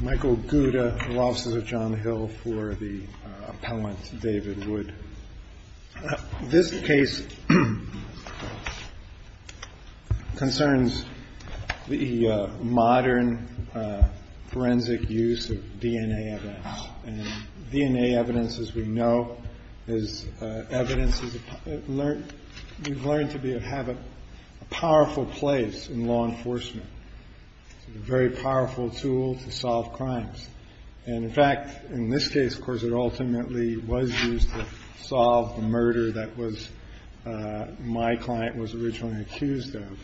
Michael Gouda, Law Offices of John Hill, for the appellant, David Wood. This case concerns the modern forensic use of DNA evidence. And DNA evidence, as we know, is evidence that we've learned to have a powerful place in law enforcement. It's a very powerful tool to solve crimes. And, in fact, in this case, of course, it ultimately was used to solve the murder that my client was originally accused of.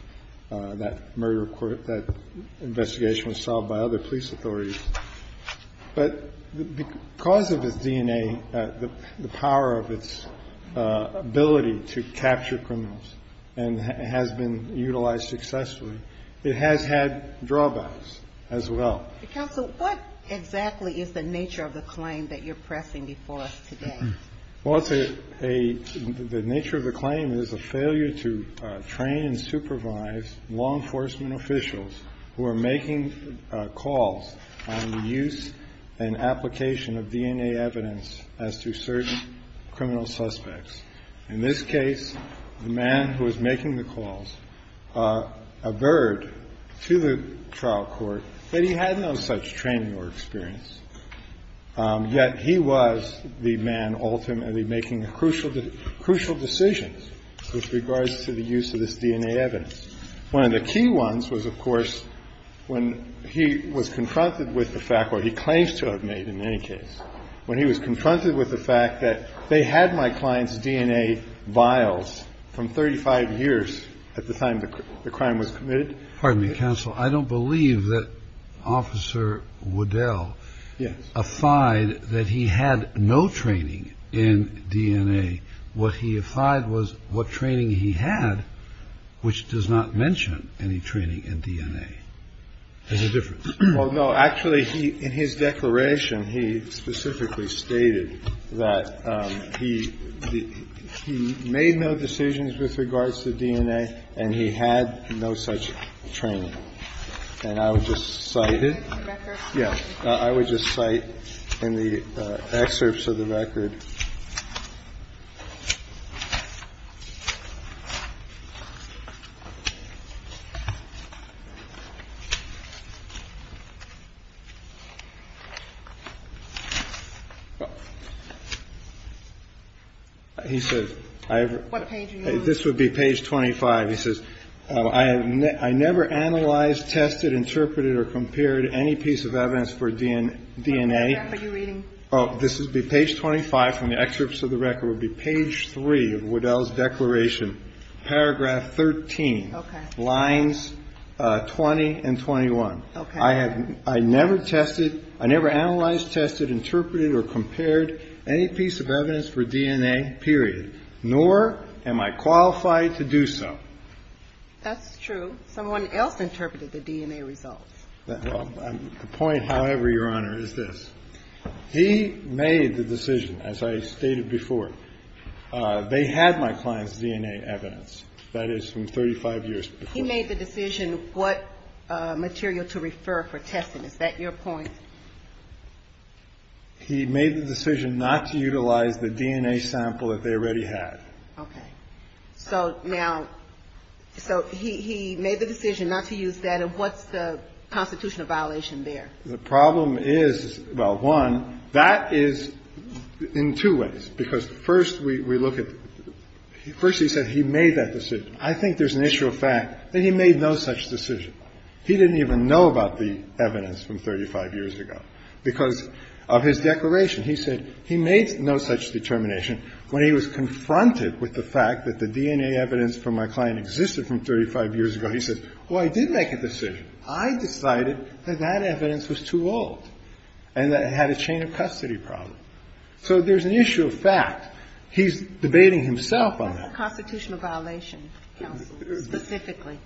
That investigation was solved by other police authorities. But because of its DNA, the power of its ability to capture criminals and has been utilized successfully, it has had drawbacks as well. Counsel, what exactly is the nature of the claim that you're pressing before us today? Well, it's a – the nature of the claim is a failure to train and supervise law enforcement officials who are making calls on the use and application of DNA evidence as to certain criminal suspects. In this case, the man who was making the calls averred to the trial court that he had no such training or experience. Yet he was the man ultimately making crucial decisions with regards to the use of this DNA evidence. One of the key ones was, of course, when he was confronted with the fact, or he claims to have made in any case, when he was confronted with the fact that they had my client's DNA vials from 35 years at the time the crime was committed. Pardon me, Counsel. I don't believe that Officer Waddell affide that he had no training in DNA. What he affide was what training he had, which does not mention any training in DNA. There's a difference. Well, no. Actually, in his declaration, he specifically stated that he made no decisions with regards to DNA and he had no such training. And I would just cite it. Yeah. I would just cite in the excerpts of the record. He said, I have what page this would be page 25. He says, I have I never analyzed, tested, interpreted or compared any piece of evidence for DNA DNA. Are you reading? Oh, this is the page 25 from the excerpts of the record would be page 25. Page three of Waddell's declaration, paragraph 13, lines 20 and 21. I have I never tested. I never analyzed, tested, interpreted or compared any piece of evidence for DNA, period, nor am I qualified to do so. That's true. Someone else interpreted the DNA results. The point, however, Your Honor, is this. He made the decision, as I stated before, they had my client's DNA evidence. That is from 35 years. He made the decision what material to refer for testing. Is that your point? He made the decision not to utilize the DNA sample that they already had. Okay. So now so he made the decision not to use that. And what's the constitutional violation there? The problem is, well, one, that is in two ways, because first we look at first he said he made that decision. I think there's an issue of fact that he made no such decision. He didn't even know about the evidence from 35 years ago because of his declaration. He said he made no such determination when he was confronted with the fact that the DNA evidence from my client existed from 35 years ago. He said, well, I did make a decision. I decided that that evidence was too old and that it had a chain of custody problem. So there's an issue of fact. He's debating himself on that. What's the constitutional violation, counsel, specifically?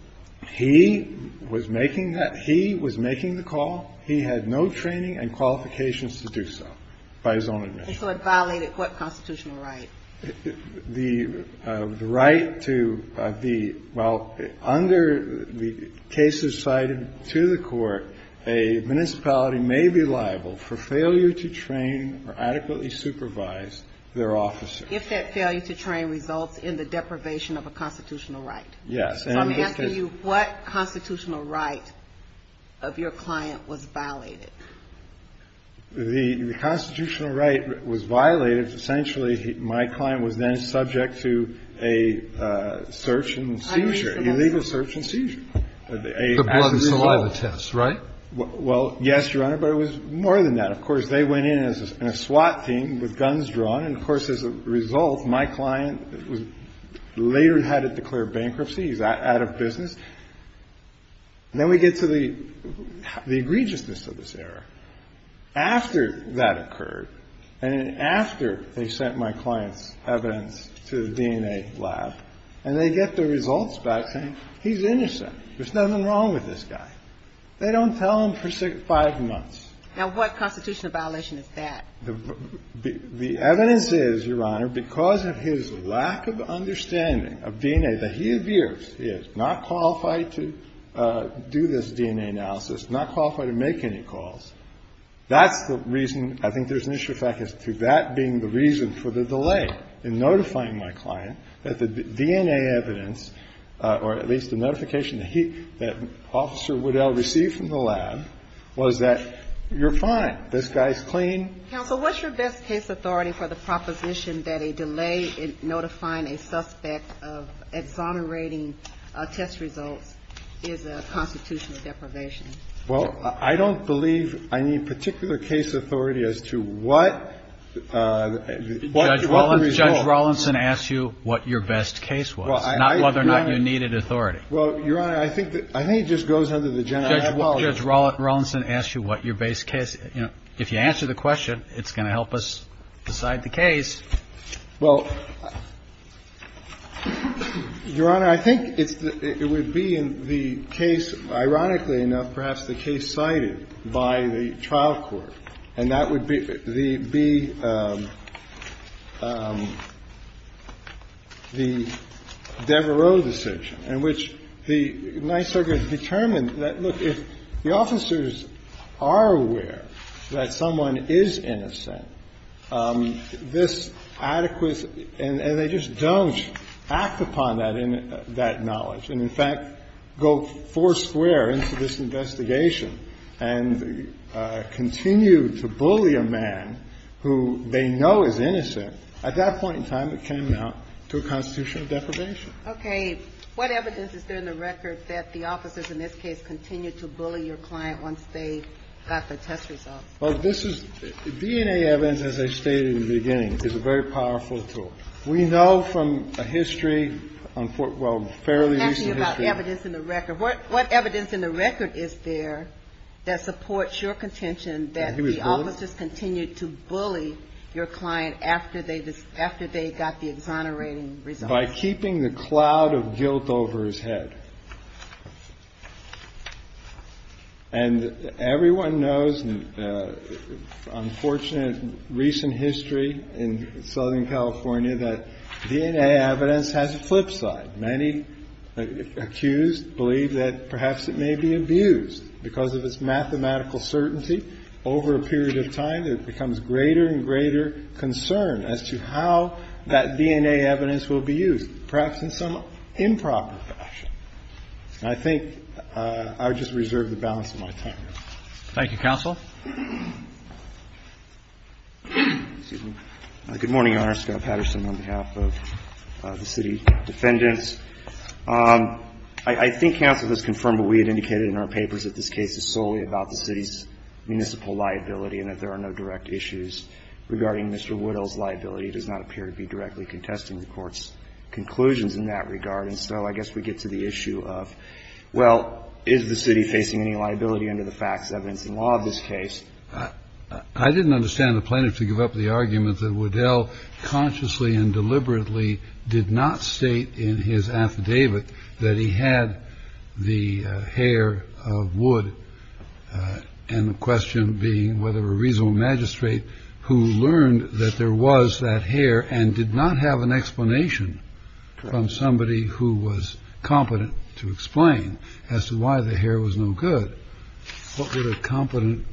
He was making that he was making the call. He had no training and qualifications to do so. By his own admission. And so it violated what constitutional right? The right to the well, under the cases cited to the court, a municipality may be liable for failure to train or adequately supervise their officer. If that failure to train results in the deprivation of a constitutional right. Yes. So I'm asking you what constitutional right of your client was violated? The constitutional right was violated. Essentially, my client was then subject to a search and seizure, illegal search and seizure. The blood and saliva test, right? Well, yes, Your Honor. But it was more than that. Of course, they went in as a SWAT team with guns drawn. And, of course, as a result, my client was later had to declare bankruptcy. He's out of business. Then we get to the egregiousness of this error. After that occurred, and after they sent my client's evidence to the DNA lab, and they get the results back saying he's innocent, there's nothing wrong with this guy. They don't tell him for five months. Now, what constitutional violation is that? The evidence is, Your Honor, because of his lack of understanding of DNA, that he appears, he is not qualified to do this DNA analysis, not qualified to make any calls. That's the reason I think there's an issue, in fact, as to that being the reason for the delay in notifying my client that the DNA evidence, or at least the notification that he, that Officer Waddell received from the lab, was that you're fine, this guy's clean. Counsel, what's your best case authority for the proposition that a delay in notifying a suspect of exonerating test results is a constitutional deprivation? Well, I don't believe I need particular case authority as to what the result. Judge Rawlinson asked you what your best case was, not whether or not you needed authority. Well, Your Honor, I think it just goes under the general policy. Judge Rawlinson asked you what your best case. If you answer the question, it's going to help us decide the case. Well, Your Honor, I think it's the – it would be in the case, ironically enough, perhaps the case cited by the trial court, and that would be the Devereaux decision in which the NISERGA has determined that, look, if the officers are aware that someone is innocent, this adequate – and they just don't act upon that knowledge and, in fact, go foursquare into this investigation and continue to bully a man who they know is innocent, at that point in time it can amount to a constitutional deprivation. Okay. What evidence is there in the record that the officers in this case continued to bully your client once they got the test results? Well, this is – DNA evidence, as I stated in the beginning, is a very powerful tool. We know from a history – well, fairly recent history. I'm asking about evidence in the record. What evidence in the record is there that supports your contention that the officers continued to bully your client after they got the exonerating results? By keeping the cloud of guilt over his head. And everyone knows, unfortunate recent history in Southern California, that DNA evidence has a flip side. Many accused believe that perhaps it may be abused because of its mathematical certainty. Over a period of time, it becomes greater and greater concern as to how that DNA evidence will be used, perhaps in some improper fashion. And I think I would just reserve the balance of my time. Thank you, counsel. Good morning, Your Honor. Scott Patterson on behalf of the city defendants. I think counsel has confirmed what we had indicated in our papers, that this case is solely about the city's municipal liability and that there are no direct issues regarding Mr. Woodall's liability. It does not appear to be directly contesting the court's conclusions in that regard. And so I guess we get to the issue of, well, is the city facing any liability under the facts, evidence, and law of this case? I didn't understand the plaintiff to give up the argument that Woodall consciously and deliberately did not state in his affidavit that he had the hair of wood. And the question being whether a reasonable magistrate who learned that there was that hair and did not have an explanation from somebody who was competent to explain as to why the hair was no good. What would a competent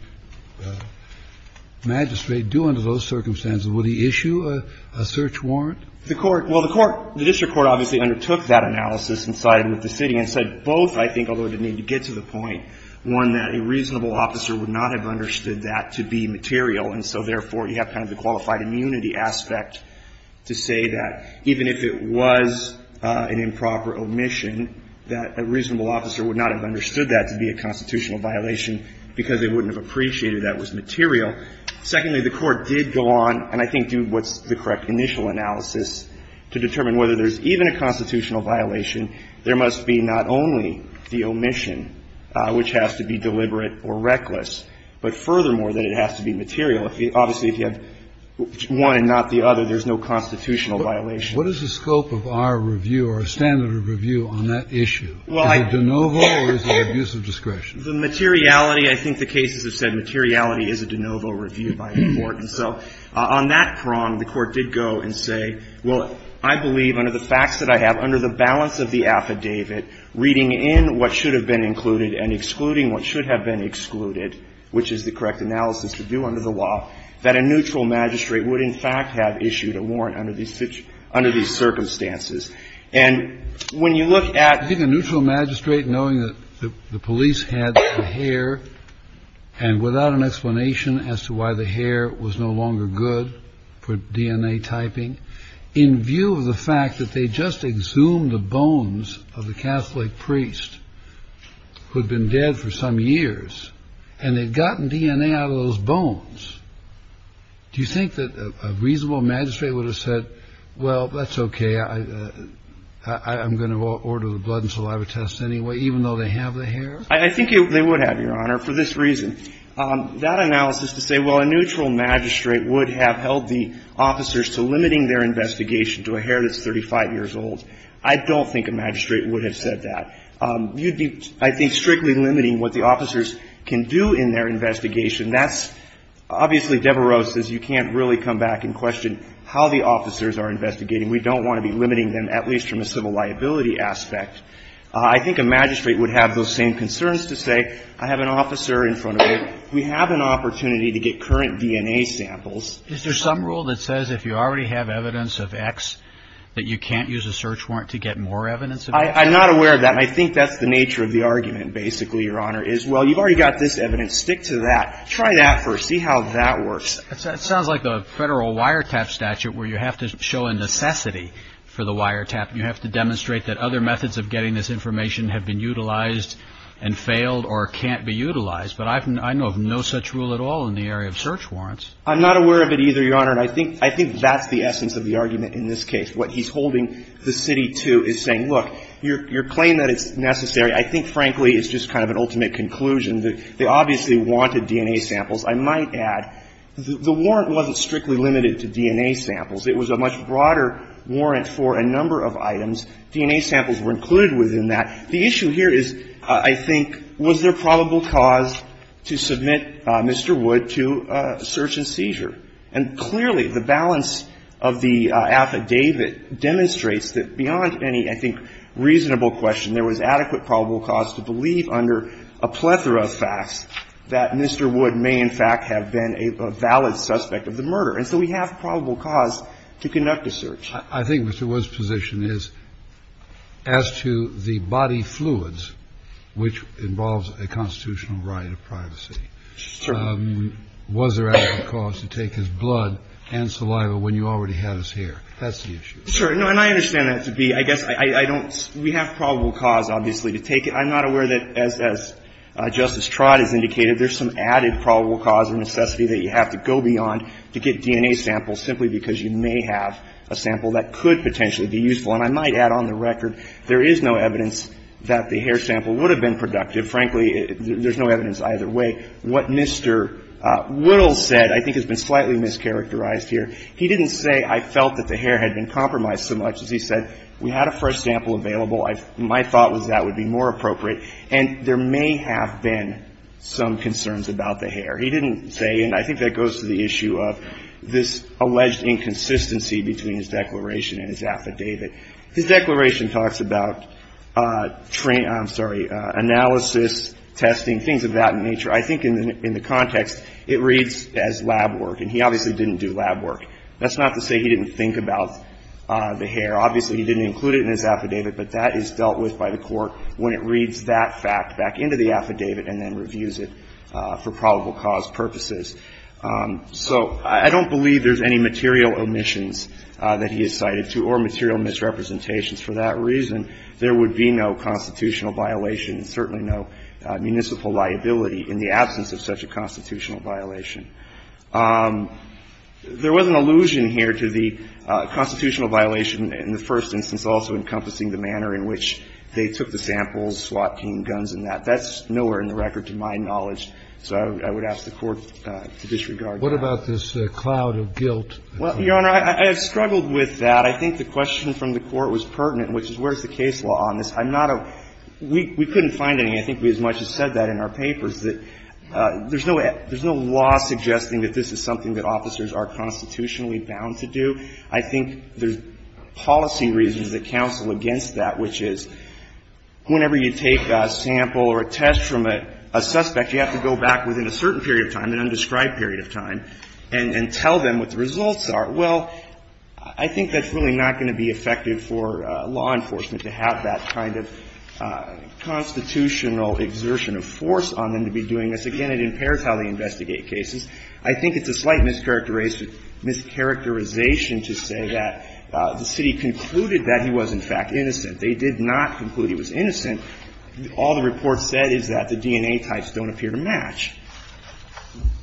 magistrate do under those circumstances? Would he issue a search warrant? The court – well, the court – the district court obviously undertook that analysis and sided with the city and said both, I think, although I didn't need to get to the point, one, that a reasonable officer would not have understood that to be material, and so, therefore, you have kind of the qualified immunity aspect to say that even if it was an improper omission, that a reasonable officer would not have understood that to be a constitutional violation because they wouldn't have appreciated that it was material. Secondly, the court did go on, and I think do what's the correct initial analysis to determine whether there's even a constitutional violation, there must be not only the omission, which has to be deliberate or reckless, but furthermore, that it has to be material. Obviously, if you have one and not the other, there's no constitutional violation. Kennedy. What is the scope of our review or standard of review on that issue? Is it de novo or is it abuse of discretion? The materiality, I think the cases have said materiality is a de novo review by the court. And so on that prong, the court did go and say, well, I believe under the facts that I have, under the balance of the affidavit, reading in what should have been included and excluding what should have been excluded, which is the correct analysis to do under the law, that a neutral magistrate would in fact have issued a warrant under these circumstances. And when you look at the neutral magistrate knowing that the police had the hair and without an explanation as to why the hair was no longer good for DNA typing in view of the fact that they just exhumed the bones of the Catholic priest who had been dead for some years and they'd gotten DNA out of those bones, do you think that a reasonable magistrate would have said, well, that's okay, I'm going to order the blood and saliva tests anyway, even though they have the hair? I think they would have, Your Honor, for this reason. That analysis to say, well, a neutral magistrate would have held the officers to limiting their investigation to a hair that's 35 years old, I don't think a magistrate would have said that. You'd be, I think, strictly limiting what the officers can do in their investigation. That's – obviously, Devereaux says you can't really come back and question how the officers are investigating. We don't want to be limiting them, at least from a civil liability aspect. I think a magistrate would have those same concerns to say, I have an officer in front of me. We have an opportunity to get current DNA samples. Is there some rule that says if you already have evidence of X that you can't use a search warrant to get more evidence of X? I'm not aware of that, and I think that's the nature of the argument, basically, Your Honor, is, well, you've already got this evidence. Stick to that. Try that first. See how that works. It sounds like the federal wiretap statute where you have to show a necessity for the wiretap. You have to demonstrate that other methods of getting this information have been utilized and failed or can't be utilized. But I know of no such rule at all in the area of search warrants. I'm not aware of it either, Your Honor, and I think that's the essence of the argument in this case. What he's holding the city to is saying, look, your claim that it's necessary, I think, frankly, is just kind of an ultimate conclusion. They obviously wanted DNA samples. I might add the warrant wasn't strictly limited to DNA samples. It was a much broader warrant for a number of items. DNA samples were included within that. The issue here is, I think, was there probable cause to submit Mr. Wood to search and seizure. And clearly, the balance of the affidavit demonstrates that beyond any, I think, reasonable question, there was adequate probable cause to believe under a plethora of facts that Mr. Wood may in fact have been a valid suspect of the murder. And so we have probable cause to conduct a search. I think Mr. Wood's position is, as to the body fluids, which involves a constitutional right of privacy. Sure. Was there adequate cause to take his blood and saliva when you already had his hair? That's the issue. Sure. No, and I understand that to be, I guess, I don't we have probable cause, obviously, to take it. I'm not aware that, as Justice Trott has indicated, there's some added probable cause or necessity that you have to go beyond to get DNA samples simply because you may have a sample that could potentially be useful. And I might add, on the record, there is no evidence that the hair sample would have been productive. Frankly, there's no evidence either way. What Mr. Woodle said, I think, has been slightly mischaracterized here. He didn't say, I felt that the hair had been compromised so much, as he said, we had a fresh sample available. My thought was that would be more appropriate. And there may have been some concerns about the hair. He didn't say, and I think that goes to the issue of this alleged inconsistency between his declaration and his affidavit. His declaration talks about, I'm sorry, analysis, testing, things of that nature. I think in the context, it reads as lab work. And he obviously didn't do lab work. That's not to say he didn't think about the hair. Obviously, he didn't include it in his affidavit. But that is dealt with by the Court when it reads that fact back into the affidavit and then reviews it for probable cause purposes. So I don't believe there's any material omissions that he has cited to or material misrepresentations for that reason. There would be no constitutional violation and certainly no municipal liability in the absence of such a constitutional violation. There was an allusion here to the constitutional violation in the first instance also encompassing the manner in which they took the samples, SWAT team, guns and that. That's nowhere in the record to my knowledge. So I would ask the Court to disregard that. Scalia. What about this cloud of guilt? Well, Your Honor, I have struggled with that. I think the question from the Court was pertinent, which is where's the case law on this. I'm not a – we couldn't find any. I think we as much as said that in our papers, that there's no law suggesting that this is something that officers are constitutionally bound to do. I think there's policy reasons that counsel against that, which is whenever you take a sample or a test from a suspect, you have to go back within a certain period of time, an undescribed period of time, and tell them what the results are. Well, I think that's really not going to be effective for law enforcement to have that kind of constitutional exertion of force on them to be doing this. Again, it impairs how they investigate cases. I think it's a slight mischaracterization to say that the city concluded that he was, in fact, innocent. They did not conclude he was innocent. All the report said is that the DNA types don't appear to match.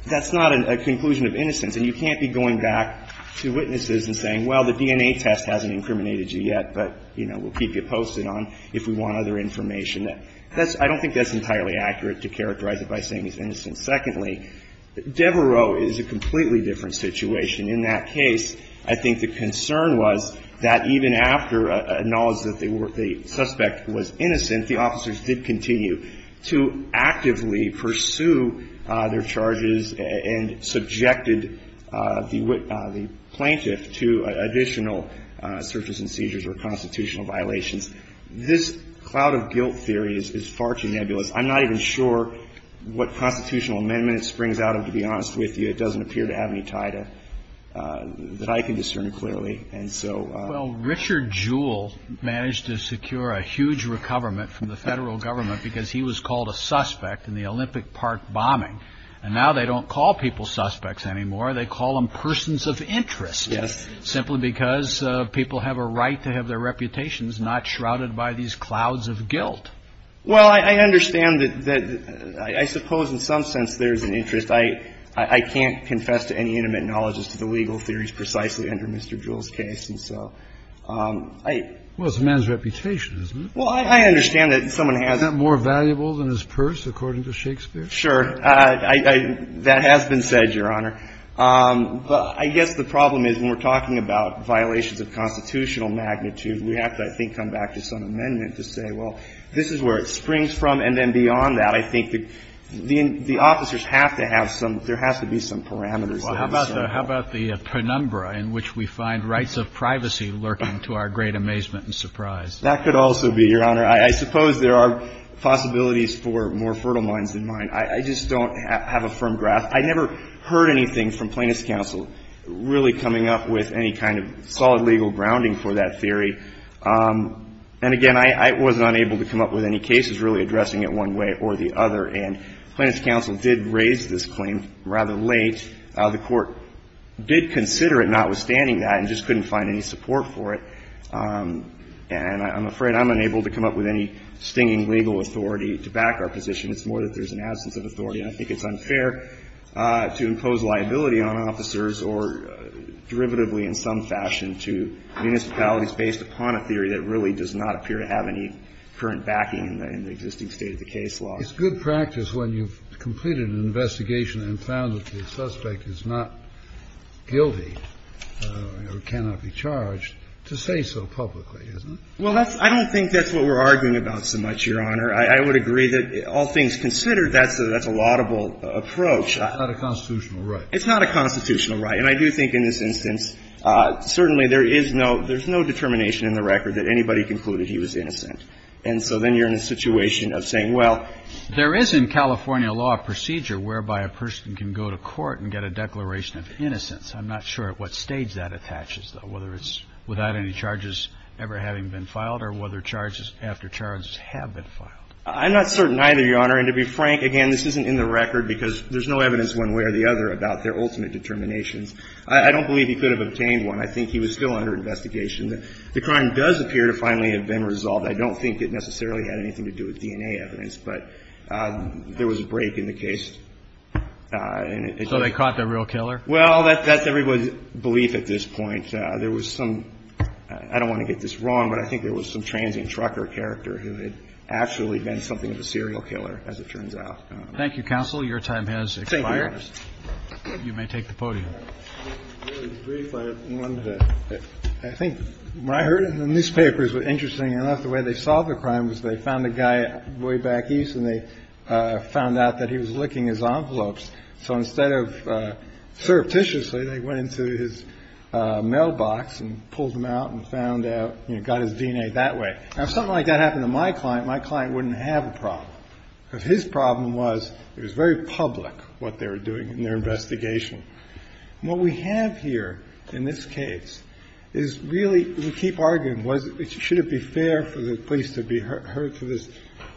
That's not a conclusion of innocence. And you can't be going back to witnesses and saying, well, the DNA test hasn't incriminated you yet, but, you know, we'll keep you posted on if we want other information. That's – I don't think that's entirely accurate to characterize it by saying he's innocent. Secondly, Devereaux is a completely different situation. In that case, I think the concern was that even after acknowledging that they were – that the suspect was innocent, the officers did continue to actively pursue their charges and subjected the plaintiff to additional searches and seizures or constitutional violations. This cloud-of-guilt theory is far too nebulous. I'm not even sure what constitutional amendment it springs out of, to be honest with you. It doesn't appear to have any tie to – that I can discern clearly. Well, Richard Jewell managed to secure a huge recoverment from the federal government because he was called a suspect in the Olympic Park bombing. And now they don't call people suspects anymore. They call them persons of interest. Yes. Simply because people have a right to have their reputations not shrouded by these clouds of guilt. Well, I understand that – I suppose in some sense there's an interest. I can't confess to any intimate knowledge as to the legal theories precisely under Mr. Jewell's case. And so I – Well, it's a man's reputation, isn't it? Well, I understand that someone has – Isn't that more valuable than his purse, according to Shakespeare? Sure. That has been said, Your Honor. But I guess the problem is when we're talking about violations of constitutional magnitude, we have to, I think, come back to some amendment to say, well, this is where it springs from. And then beyond that, I think the officers have to have some – there has to be some parameters. Well, how about the – how about the penumbra in which we find rights of privacy lurking to our great amazement and surprise? That could also be, Your Honor. I suppose there are possibilities for more fertile minds than mine. I just don't have a firm grasp. I never heard anything from Plaintiff's counsel really coming up with any kind of solid legal grounding for that theory. And again, I wasn't unable to come up with any cases really addressing it one way or the other. And Plaintiff's counsel did raise this claim rather late. The Court did consider it, notwithstanding that, and just couldn't find any support for it. And I'm afraid I'm unable to come up with any stinging legal authority to back our position. It's more that there's an absence of authority. And I think it's unfair to impose liability on officers or derivatively in some fashion to municipalities based upon a theory that really does not appear to have any current backing in the existing state of the case law. It's good practice when you've completed an investigation and found that the suspect is not guilty or cannot be charged to say so publicly, isn't it? Well, that's – I don't think that's what we're arguing about so much, Your Honor. I would agree that all things considered, that's a laudable approach. It's not a constitutional right. It's not a constitutional right. And I do think in this instance, certainly there is no – there's no determination in the record that anybody concluded he was innocent. And so then you're in a situation of saying, well, there is in California law a procedure whereby a person can go to court and get a declaration of innocence. I'm not sure at what stage that attaches, though, whether it's without any charges ever having been filed or whether charges after charges have been filed. I'm not certain either, Your Honor. And to be frank, again, this isn't in the record because there's no evidence one way or the other about their ultimate determinations. I don't believe he could have obtained one. I think he was still under investigation. The crime does appear to finally have been resolved. I don't think it necessarily had anything to do with DNA evidence, but there was a break in the case. So they caught the real killer? Well, that's everybody's belief at this point. There was some – I don't want to get this wrong, but I think there was some transient trucker character who had actually been something of a serial killer, as it turns Thank you, counsel. Your time has expired. expired. You may take the podium. Really brief, I have one that I think when I heard it in the newspapers was interesting enough the way they solved the crime was they found a guy way back east and they found out that he was licking his envelopes. So instead of surreptitiously, they went into his mailbox and pulled him out and found out, you know, got his DNA that way. Now, if something like that happened to my client, my client wouldn't have a problem because his problem was it was very public what they were doing in their investigation. And what we have here in this case is really – we keep arguing should it be fair for the police to be heard for this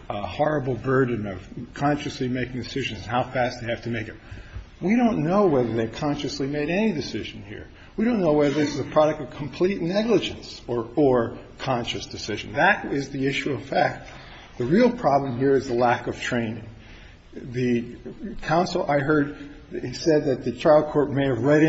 horrible burden of consciously making decisions and how fast they have to make them. We don't know whether they consciously made any decision here. We don't know whether this is a product of complete negligence or conscious decision. That is the issue of fact. The real problem here is the lack of training. The counsel I heard said that the trial court may have read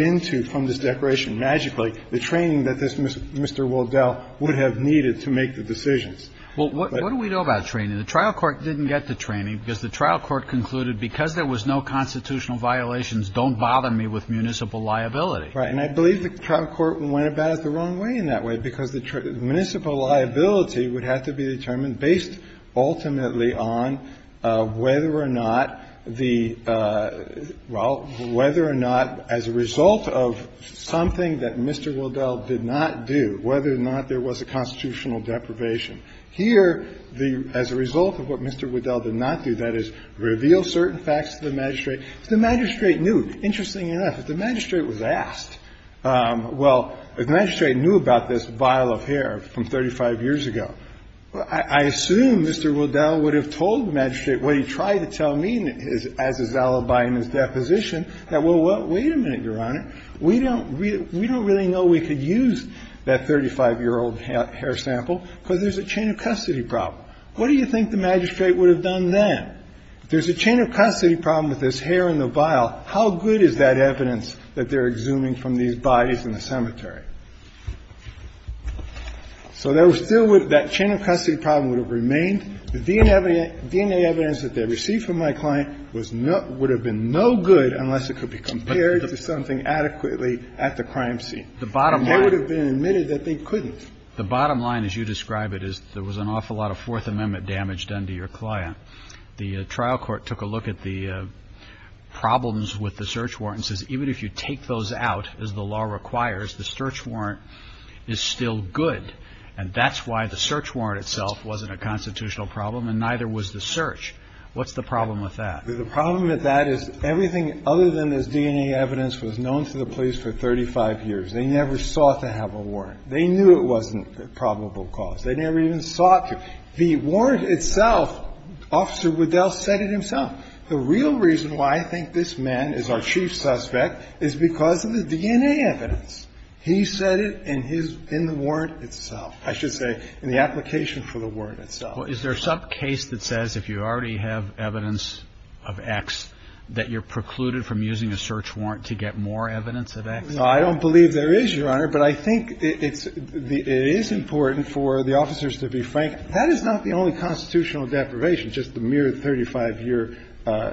into from this declaration magically the training that this Mr. Woldell would have needed to make the decisions. Well, what do we know about training? The trial court didn't get the training because the trial court concluded because there was no constitutional violations, don't bother me with municipal liability. Right. And I believe the trial court went about it the wrong way in that way because the municipal liability would have to be determined based ultimately on whether or not the – well, whether or not as a result of something that Mr. Woldell did not do, whether or not there was a constitutional deprivation. Here, the – as a result of what Mr. Woldell did not do, that is, reveal certain facts to the magistrate. If the magistrate knew, interestingly enough, if the magistrate was asked, well, if the magistrate knew about this vial of hair from 35 years ago, I assume Mr. Woldell would have told the magistrate what he tried to tell me as his alibi in his deposition that, well, wait a minute, Your Honor, we don't really know we could use that 35-year-old hair sample because there's a chain of custody problem. What do you think the magistrate would have done then? If there's a chain of custody problem with this hair in the vial, how good is that to the magistrate? So there still would – that chain of custody problem would have remained. The DNA evidence that they received from my client was not – would have been no good unless it could be compared to something adequately at the crime scene. And they would have been admitted that they couldn't. The bottom line, as you describe it, is there was an awful lot of Fourth Amendment damage done to your client. The trial court took a look at the problems with the search warrant and says even if you take those out, as the law requires, the search warrant is still good. And that's why the search warrant itself wasn't a constitutional problem and neither was the search. What's the problem with that? The problem with that is everything other than this DNA evidence was known to the police for 35 years. They never sought to have a warrant. They knew it wasn't a probable cause. They never even sought to. The warrant itself, Officer Woldell said it himself. The real reason why I think this man is our chief suspect is because of the DNA evidence. He said it in his – in the warrant itself. I should say in the application for the warrant itself. Well, is there some case that says if you already have evidence of X that you're precluded from using a search warrant to get more evidence of X? I don't believe there is, Your Honor, but I think it's – it is important for the officers to be frank. That is not the only constitutional deprivation, just the mere 35-year,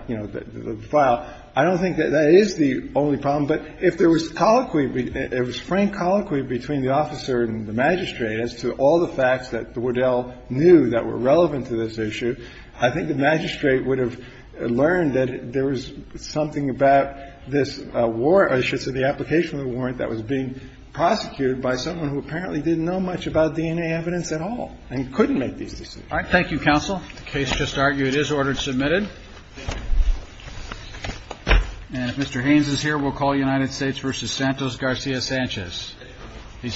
you know, file. I don't think that that is the only problem. But if there was colloquy – if it was frank colloquy between the officer and the magistrate as to all the facts that Woldell knew that were relevant to this issue, I think the magistrate would have learned that there was something about this warrant – I should say the application of the warrant that was being prosecuted by someone who apparently didn't know much about DNA evidence at all and couldn't make these decisions. All right. Thank you, counsel. The case just argued is ordered submitted. And if Mr. Haynes is here, we'll call United States v. Santos Garcia-Sanchez. He's here.